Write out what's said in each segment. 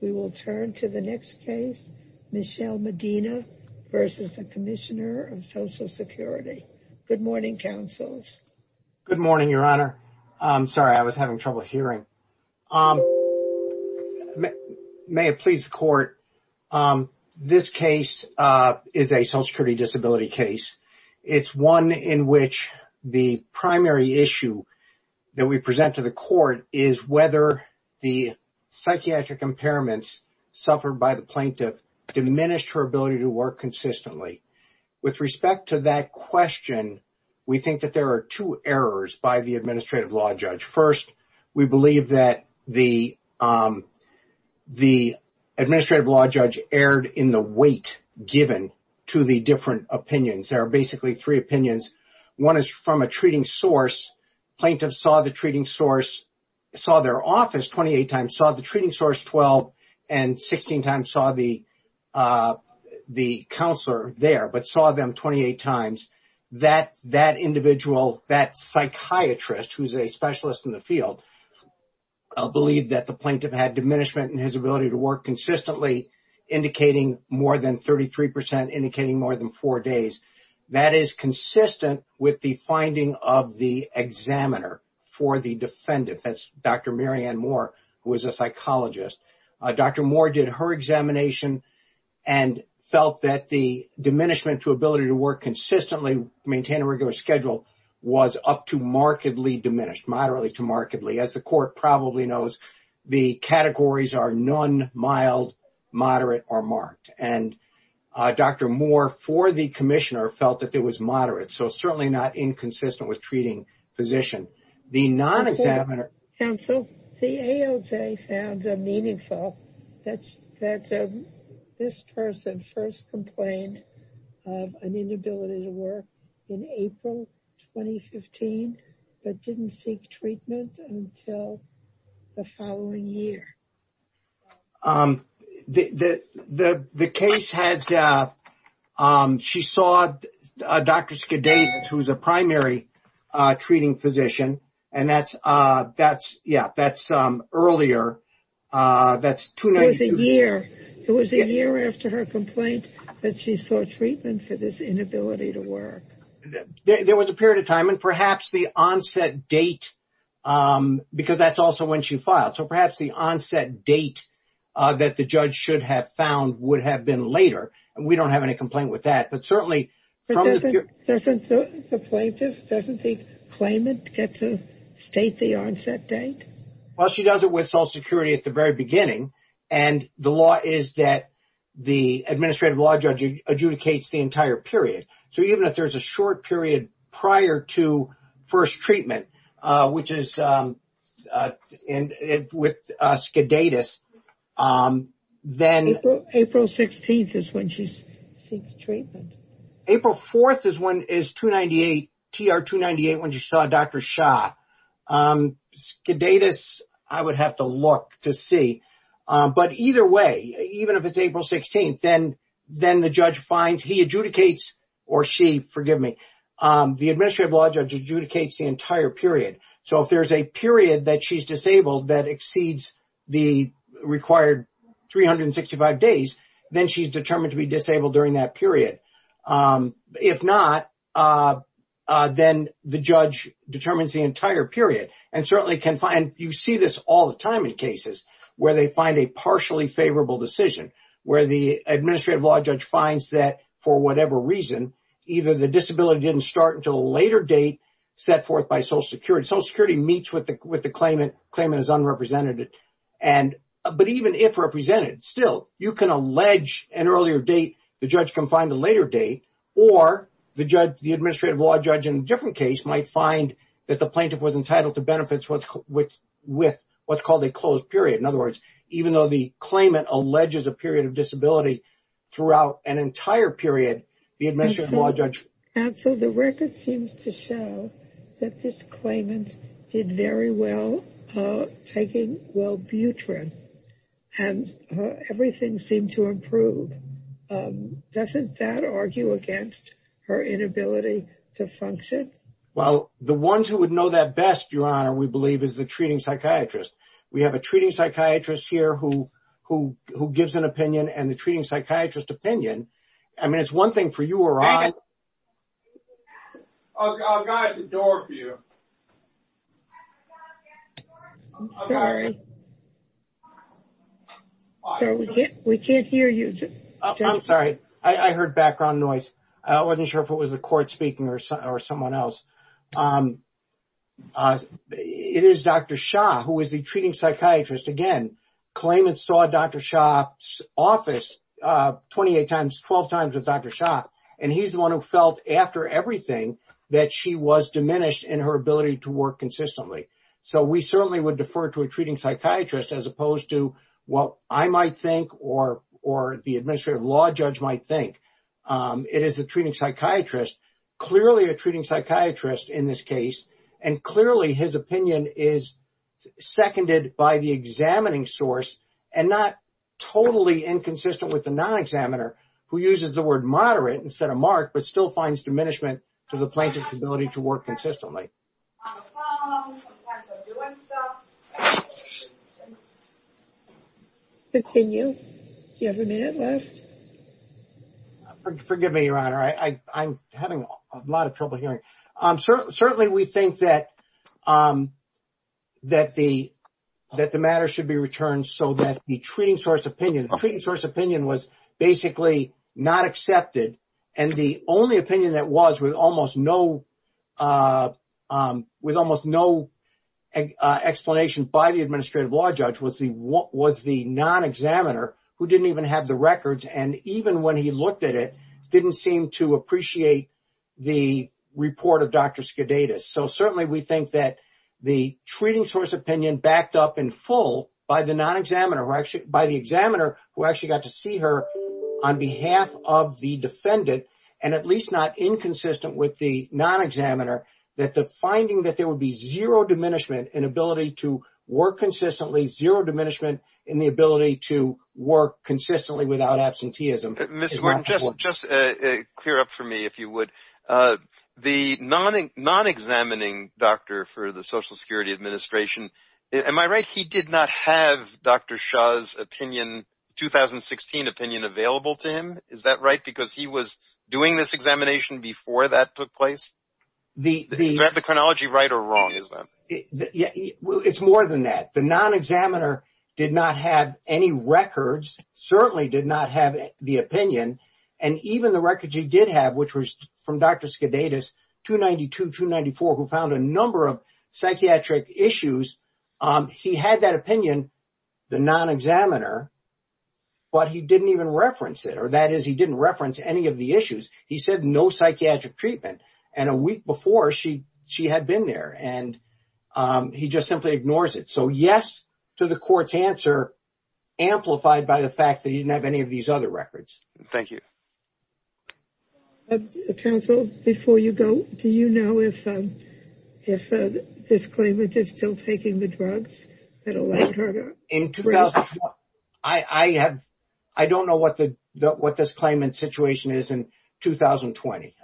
We will turn to the next case, Michelle Medina v. Commissioner of Social Security. Good morning, counsels. Good morning, Your Honor. Sorry, I was having trouble hearing. May it please the Court, this case is a Social Security disability case. It's one in which the primary issue that we present to the Court is whether the psychiatric impairments suffered by the plaintiff diminished her ability to work consistently. With respect to that question, we think that there are two errors by the administrative law judge. First, we believe that the administrative law judge erred in the weight given to the different opinions. There are basically three opinions. One is from a treating source. The plaintiff saw the treating source, saw their office 28 times, saw the treating source 12 and 16 times saw the counselor there, but saw them 28 times. That individual, that psychiatrist who is a specialist in the field, believed that the plaintiff had diminishment in his ability to work consistently, indicating more than 33 percent, indicating more than four days. That is consistent with the finding of the examiner for the defendant. That's Dr. Mary Ann Moore, who is a psychologist. Dr. Moore did her examination and felt that the diminishment to ability to work consistently, maintain a regular schedule, was up to markedly diminished, moderately to markedly. As the Court probably knows, the categories are none, mild, moderate, or marked. Dr. Moore, for the commissioner, felt that it was moderate, so certainly not inconsistent with treating physician. The non-examiner- Counsel, the AOJ found it meaningful that this person first complained of an inability to work in April 2015, but didn't seek treatment until the following year. The case has- she saw Dr. Skidates, who is a primary treating physician, and that's earlier, that's- It was a year after her complaint that she sought treatment for this inability to work. There was a period of time, and perhaps the onset date, because that's also when she filed. So perhaps the onset date that the judge should have found would have been later, and we don't have any complaint with that, but certainly- But doesn't the plaintiff, doesn't the claimant get to state the onset date? Well, she does it with Social Security at the very beginning, and the law is that the administrative law judge adjudicates the entire period. So even if there's a short period prior to first treatment, which is with Skidates, then- April 16th is when she seeks treatment. April 4th is 298, TR 298, when she saw Dr. Shah. Skidates, I would have to look to see, but either way, even if it's April 16th, then the judge finds- He adjudicates, or she, forgive me. The administrative law judge adjudicates the entire period. So if there's a period that she's disabled that exceeds the required 365 days, then she's determined to be disabled during that period. If not, then the judge determines the entire period, and certainly can find- You see this all the time in cases where they find a partially favorable decision, where the administrative law judge finds that, for whatever reason, either the disability didn't start until a later date set forth by Social Security. Social Security meets with the claimant. The claimant is unrepresented. But even if represented, still, you can allege an earlier date. The judge can find a later date, or the administrative law judge in a different case might find that the plaintiff was entitled to benefits with what's called a closed period. In other words, even though the claimant alleges a period of disability throughout an entire period, the administrative law judge- Counsel, the record seems to show that this claimant did very well taking Wellbutrin, and everything seemed to improve. Doesn't that argue against her inability to function? Well, the ones who would know that best, Your Honor, we believe is the treating psychiatrist. We have a treating psychiatrist here who gives an opinion, and the treating psychiatrist opinion, I mean, it's one thing for you, Your Honor. I've got the door for you. I'm sorry. We can't hear you. I'm sorry. I heard background noise. I wasn't sure if it was the court speaking or someone else. It is Dr. Shah, who is the treating psychiatrist. Again, claimants saw Dr. Shah's office 28 times, 12 times with Dr. Shah, and he's the one who felt after everything that she was diminished in her ability to work consistently. So we certainly would defer to a treating psychiatrist as opposed to what I might think or the administrative law judge might think. It is the treating psychiatrist. Clearly a treating psychiatrist in this case, and clearly his opinion is seconded by the examining source and not totally inconsistent with the non-examiner who uses the word moderate instead of marked but still finds diminishment to the plaintiff's ability to work consistently. Continue. Forgive me, Your Honor. I'm having a lot of trouble hearing. Certainly we think that the matter should be returned so that the treating source opinion, the treating source opinion was basically not accepted, and the only opinion that was with almost no explanation by the administrative law judge was the non-examiner who didn't even have the records, and even when he looked at it, didn't seem to appreciate the report of Dr. Skidadis. So certainly we think that the treating source opinion backed up in full by the non-examiner, by the examiner who actually got to see her on behalf of the defendant and at least not inconsistent with the non-examiner, that the finding that there would be zero diminishment in ability to work consistently, zero diminishment in the ability to work consistently without absenteeism. Mr. Martin, just clear up for me if you would. The non-examining doctor for the Social Security Administration, am I right he did not have Dr. Shah's 2016 opinion available to him? Is that right because he was doing this examination before that took place? Is the chronology right or wrong? It's more than that. The non-examiner did not have any records, certainly did not have the opinion, and even the records he did have, which was from Dr. Skidadis, 292-294, who found a number of psychiatric issues, he had that opinion, the non-examiner, but he didn't even reference it, or that is he didn't reference any of the issues. He said no psychiatric treatment, and a week before she had been there, and he just simply ignores it. So yes to the court's answer, amplified by the fact that he didn't have any of these other records. Thank you. Counsel, before you go, do you know if this claimant is still taking the drugs? I don't know what this claimant's situation is in 2020.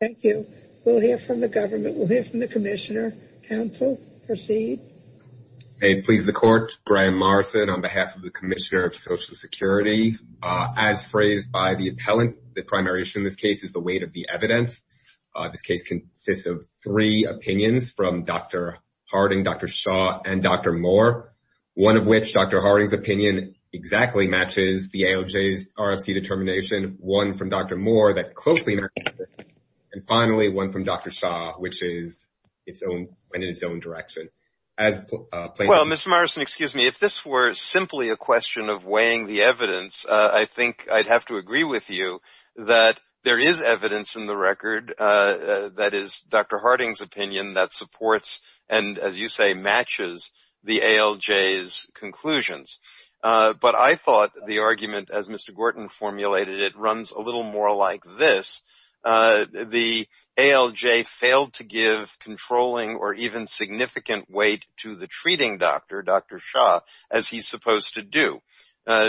Thank you. We'll hear from the government. We'll hear from the commissioner. Counsel, proceed. Please the court, Graham Morrison on behalf of the Commissioner of Social Security. As phrased by the appellant, the primary issue in this case is the weight of the evidence. This case consists of three opinions from Dr. Harding, Dr. Shaw, and Dr. Moore, one of which, Dr. Harding's opinion, exactly matches the AOJ's RFC determination, one from Dr. Moore that closely matches it, and finally one from Dr. Shaw, which went in its own direction. Well, Mr. Morrison, excuse me, if this were simply a question of weighing the evidence, I think I'd have to agree with you that there is evidence in the record that is Dr. Harding's opinion that supports and, as you say, matches the ALJ's conclusions. But I thought the argument, as Mr. Gorton formulated it, runs a little more like this. The ALJ failed to give controlling or even significant weight to the treating doctor, Dr. Shaw, as he's supposed to do,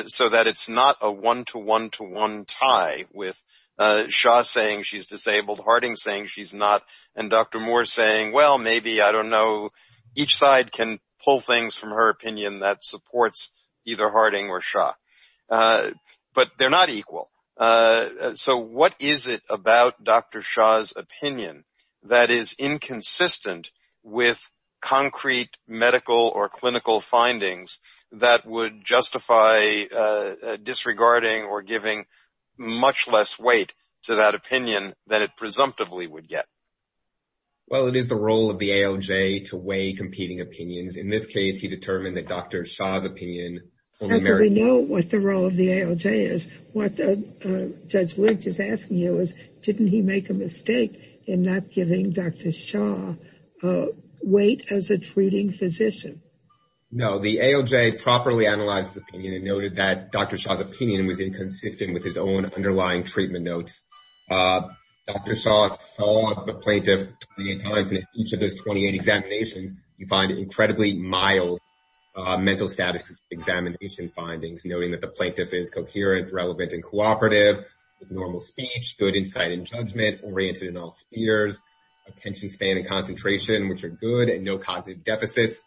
so that it's not a one-to-one-to-one tie with Shaw saying she's disabled, Harding saying she's not, and Dr. Moore saying, well, maybe, I don't know, each side can pull things from her opinion that supports either Harding or Shaw. But they're not equal. So what is it about Dr. Shaw's opinion that is inconsistent with concrete medical or clinical findings that would justify disregarding or giving much less weight to that opinion than it presumptively would get? Well, it is the role of the ALJ to weigh competing opinions. In this case, he determined that Dr. Shaw's opinion only merits- However, we know what the role of the ALJ is. What Judge Lynch is asking you is, didn't he make a mistake in not giving Dr. Shaw weight as a treating physician? No. The ALJ properly analyzed his opinion and noted that Dr. Shaw's opinion was inconsistent with his own underlying treatment notes. Dr. Shaw saw the plaintiff 28 times in each of those 28 examinations. You find incredibly mild mental status examination findings, noting that the plaintiff is coherent, relevant, and cooperative, with normal speech, good insight and judgment, oriented in all spheres, attention span and concentration, which are good, and no cognitive deficits.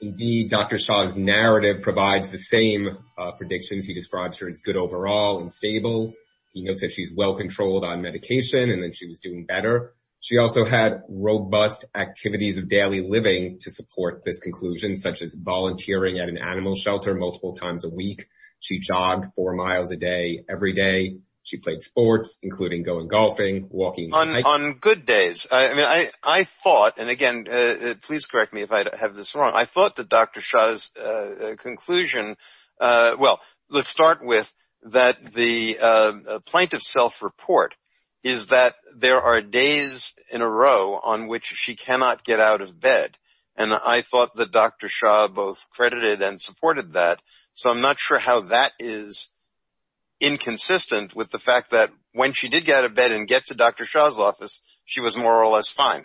Indeed, Dr. Shaw's narrative provides the same predictions. He describes her as good overall and stable. He notes that she's well-controlled on medication and that she was doing better. She also had robust activities of daily living to support this conclusion, such as volunteering at an animal shelter multiple times a week. She jogged four miles a day every day. She played sports, including going golfing, walking- On good days. I mean, I thought, and again, please correct me if I have this wrong, I thought that Dr. Shaw's conclusion, well, let's start with that the plaintiff's self-report is that there are days in a row on which she cannot get out of bed, and I thought that Dr. Shaw both credited and supported that, so I'm not sure how that is inconsistent with the fact that when she did get out of bed and get to Dr. Shaw's office, she was more or less fine.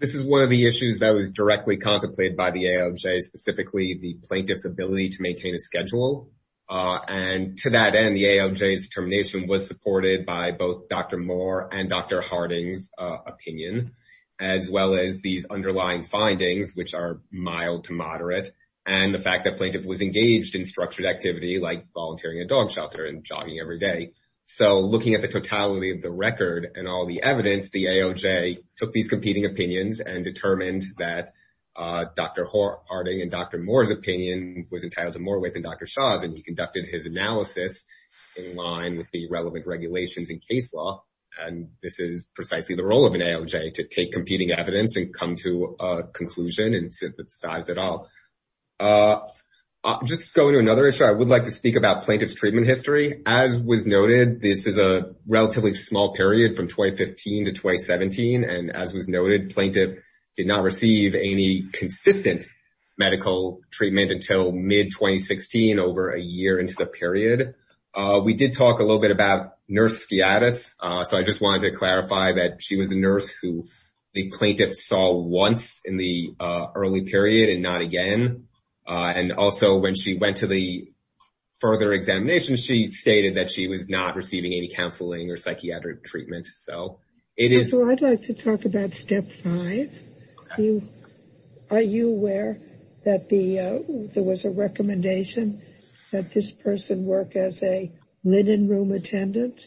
This is one of the issues that was directly contemplated by the AOJ, specifically the plaintiff's ability to maintain a schedule, and to that end, the AOJ's determination was supported by both Dr. Moore and Dr. Harding's opinion, as well as these underlying findings, which are mild to moderate, and the fact that the plaintiff was engaged in structured activity like volunteering at a dog shelter and jogging every day. So looking at the totality of the record and all the evidence, the AOJ took these competing opinions and determined that Dr. Harding and Dr. Moore's opinion was entitled to more weight than Dr. Shaw's, and he conducted his analysis in line with the relevant regulations in case law, and this is precisely the role of an AOJ, to take competing evidence and come to a conclusion and synthesize it all. Just going to another issue, I would like to speak about plaintiff's treatment history. As was noted, this is a relatively small period from 2015 to 2017, and as was noted, plaintiff did not receive any consistent medical treatment until mid-2016, over a year into the period. We did talk a little bit about nurse skiatis, so I just wanted to clarify that she was a nurse who the plaintiff saw once in the early period and not again, and also when she went to the further examination, she stated that she was not receiving any counseling or psychiatric treatment. So I'd like to talk about step five. Are you aware that there was a recommendation that this person work as a linen room attendant,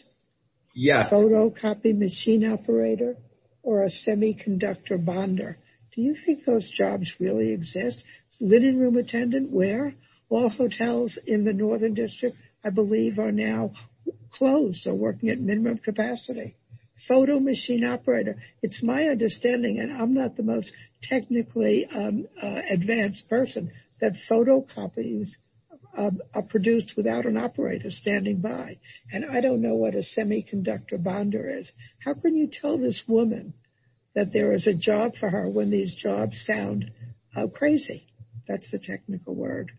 photocopy machine operator, or a semiconductor bonder? Do you think those jobs really exist? Linen room attendant, where? All hotels in the Northern District, I believe, are now closed, so working at minimum capacity. Photo machine operator. It's my understanding, and I'm not the most technically advanced person, that photocopies are produced without an operator standing by, and I don't know what a semiconductor bonder is. How can you tell this woman that there is a job for her when these jobs sound crazy? That's the technical word.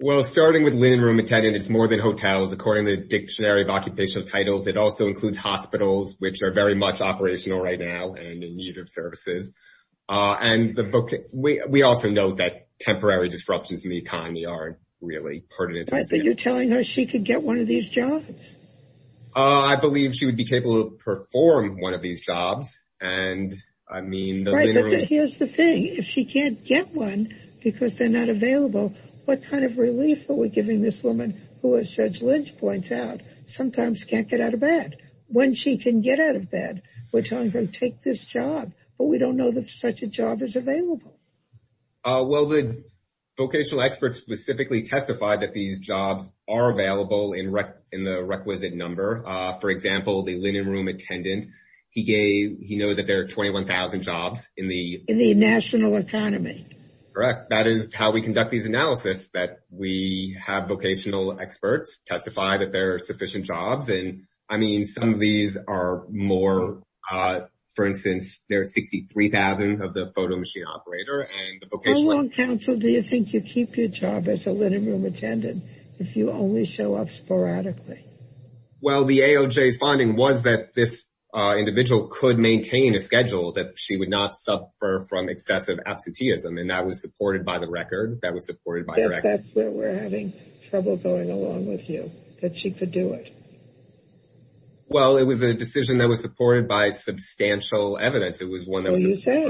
Well, starting with linen room attendant, it's more than hotels. According to the Dictionary of Occupational Titles, it also includes hospitals, which are very much operational right now and in need of services, and we also know that temporary disruptions in the economy are really pertinent. But you're telling her she could get one of these jobs? I believe she would be capable of performing one of these jobs, and I mean the linen room. Right, but here's the thing. If she can't get one because they're not available, what kind of relief are we giving this woman who, as Judge Lynch points out, sometimes can't get out of bed? When she can get out of bed, we're telling her, take this job, but we don't know that such a job is available. Well, the vocational experts specifically testified that these jobs are available in the requisite number. For example, the linen room attendant, he knows that there are 21,000 jobs in the… In the national economy. Correct. That is how we conduct these analyses, that we have vocational experts testify that there are sufficient jobs, and I mean some of these are more, for instance, there are 63,000 of the photo machine operator and the vocational… How long, counsel, do you think you keep your job as a linen room attendant if you only show up sporadically? Well, the AOJ's finding was that this individual could maintain a schedule, that she would not suffer from excessive absenteeism, and that was supported by the record, that was supported by the record. That's where we're having trouble going along with you, that she could do it. Well, it was a decision that was supported by substantial evidence. It was one that was… Well, you said.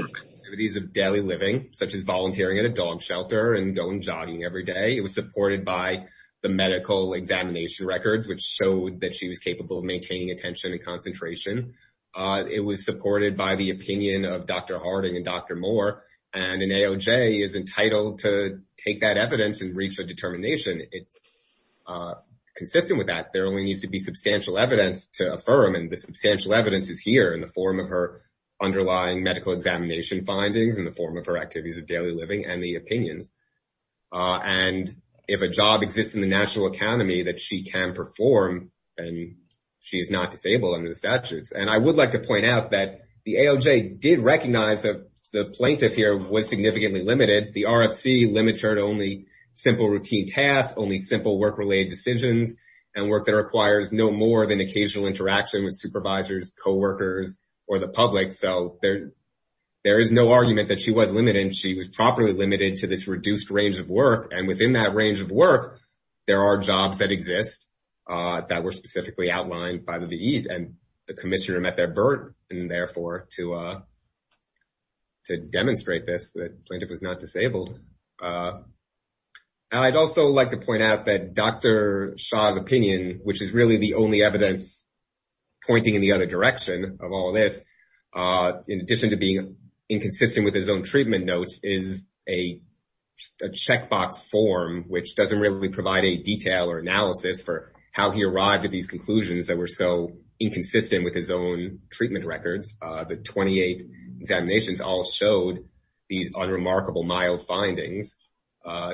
…of daily living, such as volunteering at a dog shelter and going jogging every day. It was supported by the medical examination records, which showed that she was capable of maintaining attention and concentration. It was supported by the opinion of Dr. Harding and Dr. Moore, and an AOJ is entitled to take that evidence and reach a determination. It's consistent with that. There only needs to be substantial evidence to affirm, and the substantial evidence is here in the form of her underlying medical examination findings, in the form of her activities of daily living, and the opinions. And if a job exists in the national academy that she can perform, then she is not disabled under the statutes. And I would like to point out that the AOJ did recognize that the plaintiff here was significantly limited. The RFC limits her to only simple routine tasks, only simple work-related decisions, and work that requires no more than occasional interaction with supervisors, coworkers, or the public. So there is no argument that she was limited. She was properly limited to this reduced range of work. And within that range of work, there are jobs that exist that were specifically outlined by the VE, and the commissioner met their burden, and therefore to demonstrate this, the plaintiff was not disabled. I'd also like to point out that Dr. Shah's opinion, which is really the only evidence pointing in the other direction of all this, in addition to being inconsistent with his own treatment notes, is a checkbox form which doesn't really provide a detail or analysis for how he arrived at these conclusions that were so inconsistent with his own treatment records. The 28 examinations all showed these unremarkable mild findings.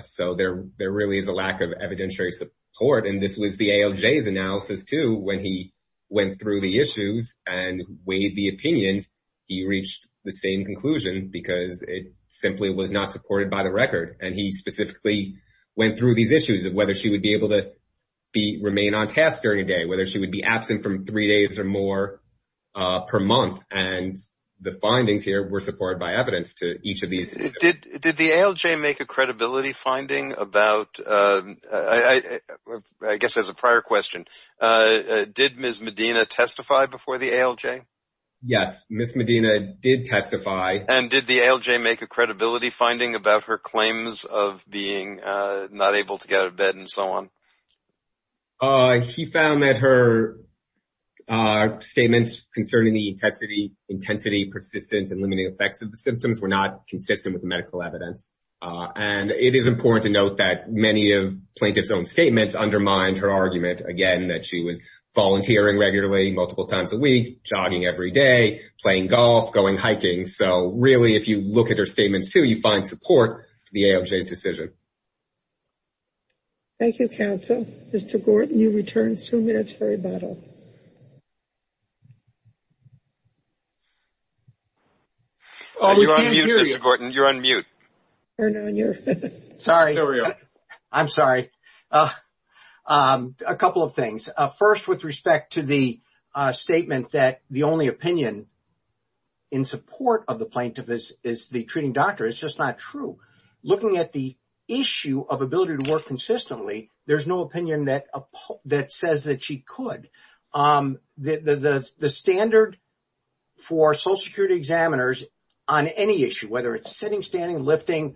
So there really is a lack of evidentiary support. And this was the AOJ's analysis too. When he went through the issues and weighed the opinions, he reached the same conclusion because it simply was not supported by the record. And he specifically went through these issues of whether she would be able to remain on task during a day, whether she would be absent from three days or more per month, and the findings here were supported by evidence to each of these issues. Did the AOJ make a credibility finding about, I guess as a prior question, did Ms. Medina testify before the AOJ? Yes, Ms. Medina did testify. And did the AOJ make a credibility finding about her claims of being not able to get out of bed and so on? She found that her statements concerning the intensity, persistence, and limiting effects of the symptoms were not consistent with the medical evidence. And it is important to note that many of plaintiff's own statements undermined her argument, again, that she was volunteering regularly multiple times a week, jogging every day, playing golf, going hiking. So really if you look at her statements too, you find support for the AOJ's decision. Thank you. Thank you, counsel. Mr. Gorton, you return to the military model. You're on mute, Mr. Gorton. You're on mute. Sorry. I'm sorry. A couple of things. First, with respect to the statement that the only opinion in support of the plaintiff is the treating doctor, it's just not true. Looking at the issue of ability to work consistently, there's no opinion that says that she could. The standard for Social Security examiners on any issue, whether it's sitting, standing, lifting,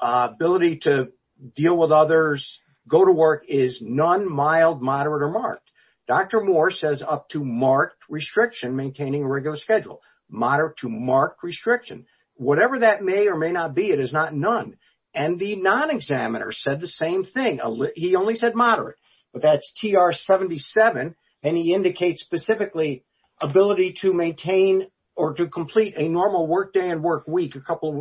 ability to deal with others, go to work, is none, mild, moderate, or marked. Dr. Moore says up to marked restriction maintaining a regular schedule, moderate to marked restriction. Whatever that may or may not be, it is not none. And the non-examiner said the same thing. He only said moderate, but that's TR-77, and he indicates specifically ability to maintain or to complete a normal workday and workweek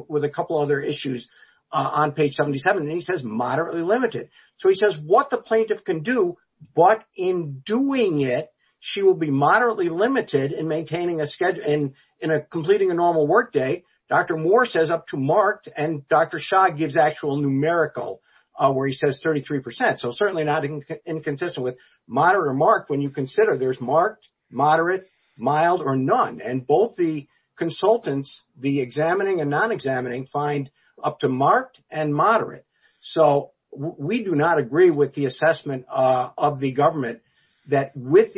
with a couple other issues on page 77, and he says moderately limited. So he says what the plaintiff can do, but in doing it, she will be moderately limited in maintaining a schedule and completing a normal workday. Dr. Moore says up to marked, and Dr. Shah gives actual numerical where he says 33%. So certainly not inconsistent with moderate or marked when you consider there's marked, moderate, mild, or none. And both the consultants, the examining and non-examining, find up to marked and moderate. So we do not agree with the assessment of the government that with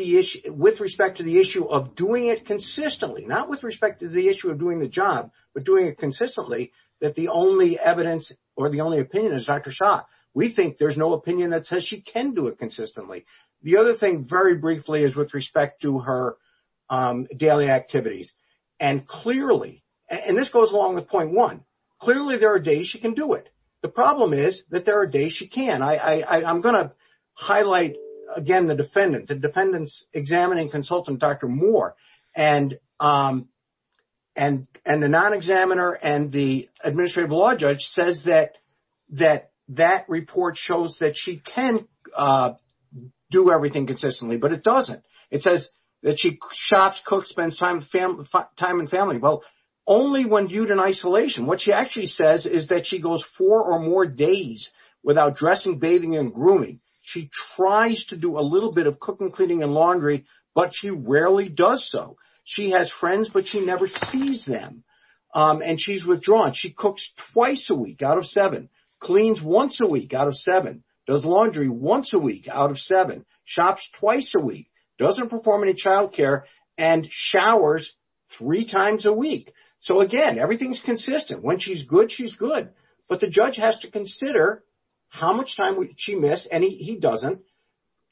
respect to the issue of doing it consistently, not with respect to the issue of doing the job, but doing it consistently, that the only evidence or the only opinion is Dr. Shah. We think there's no opinion that says she can do it consistently. The other thing, very briefly, is with respect to her daily activities. And clearly, and this goes along with point one, clearly there are days she can do it. The problem is that there are days she can't. I'm going to highlight, again, the defendant, the defendant's examining consultant, Dr. Moore. And the non-examiner and the administrative law judge says that that report shows that she can do everything consistently, but it doesn't. It says that she shops, cooks, spends time with family. Well, only when viewed in isolation. What she actually says is that she goes four or more days without dressing, bathing, and grooming. She tries to do a little bit of cooking, cleaning, and laundry, but she rarely does so. She has friends, but she never sees them. And she's withdrawn. She cooks twice a week out of seven, cleans once a week out of seven, does laundry once a week out of seven, shops twice a week, doesn't perform any child care, and showers three times a week. So, again, everything's consistent. When she's good, she's good. But the judge has to consider how much time she missed, and he doesn't,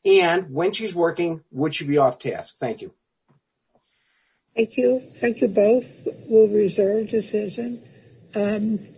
and when she's working, would she be off task? Thank you. Thank you. Thank you both. We'll reserve decision.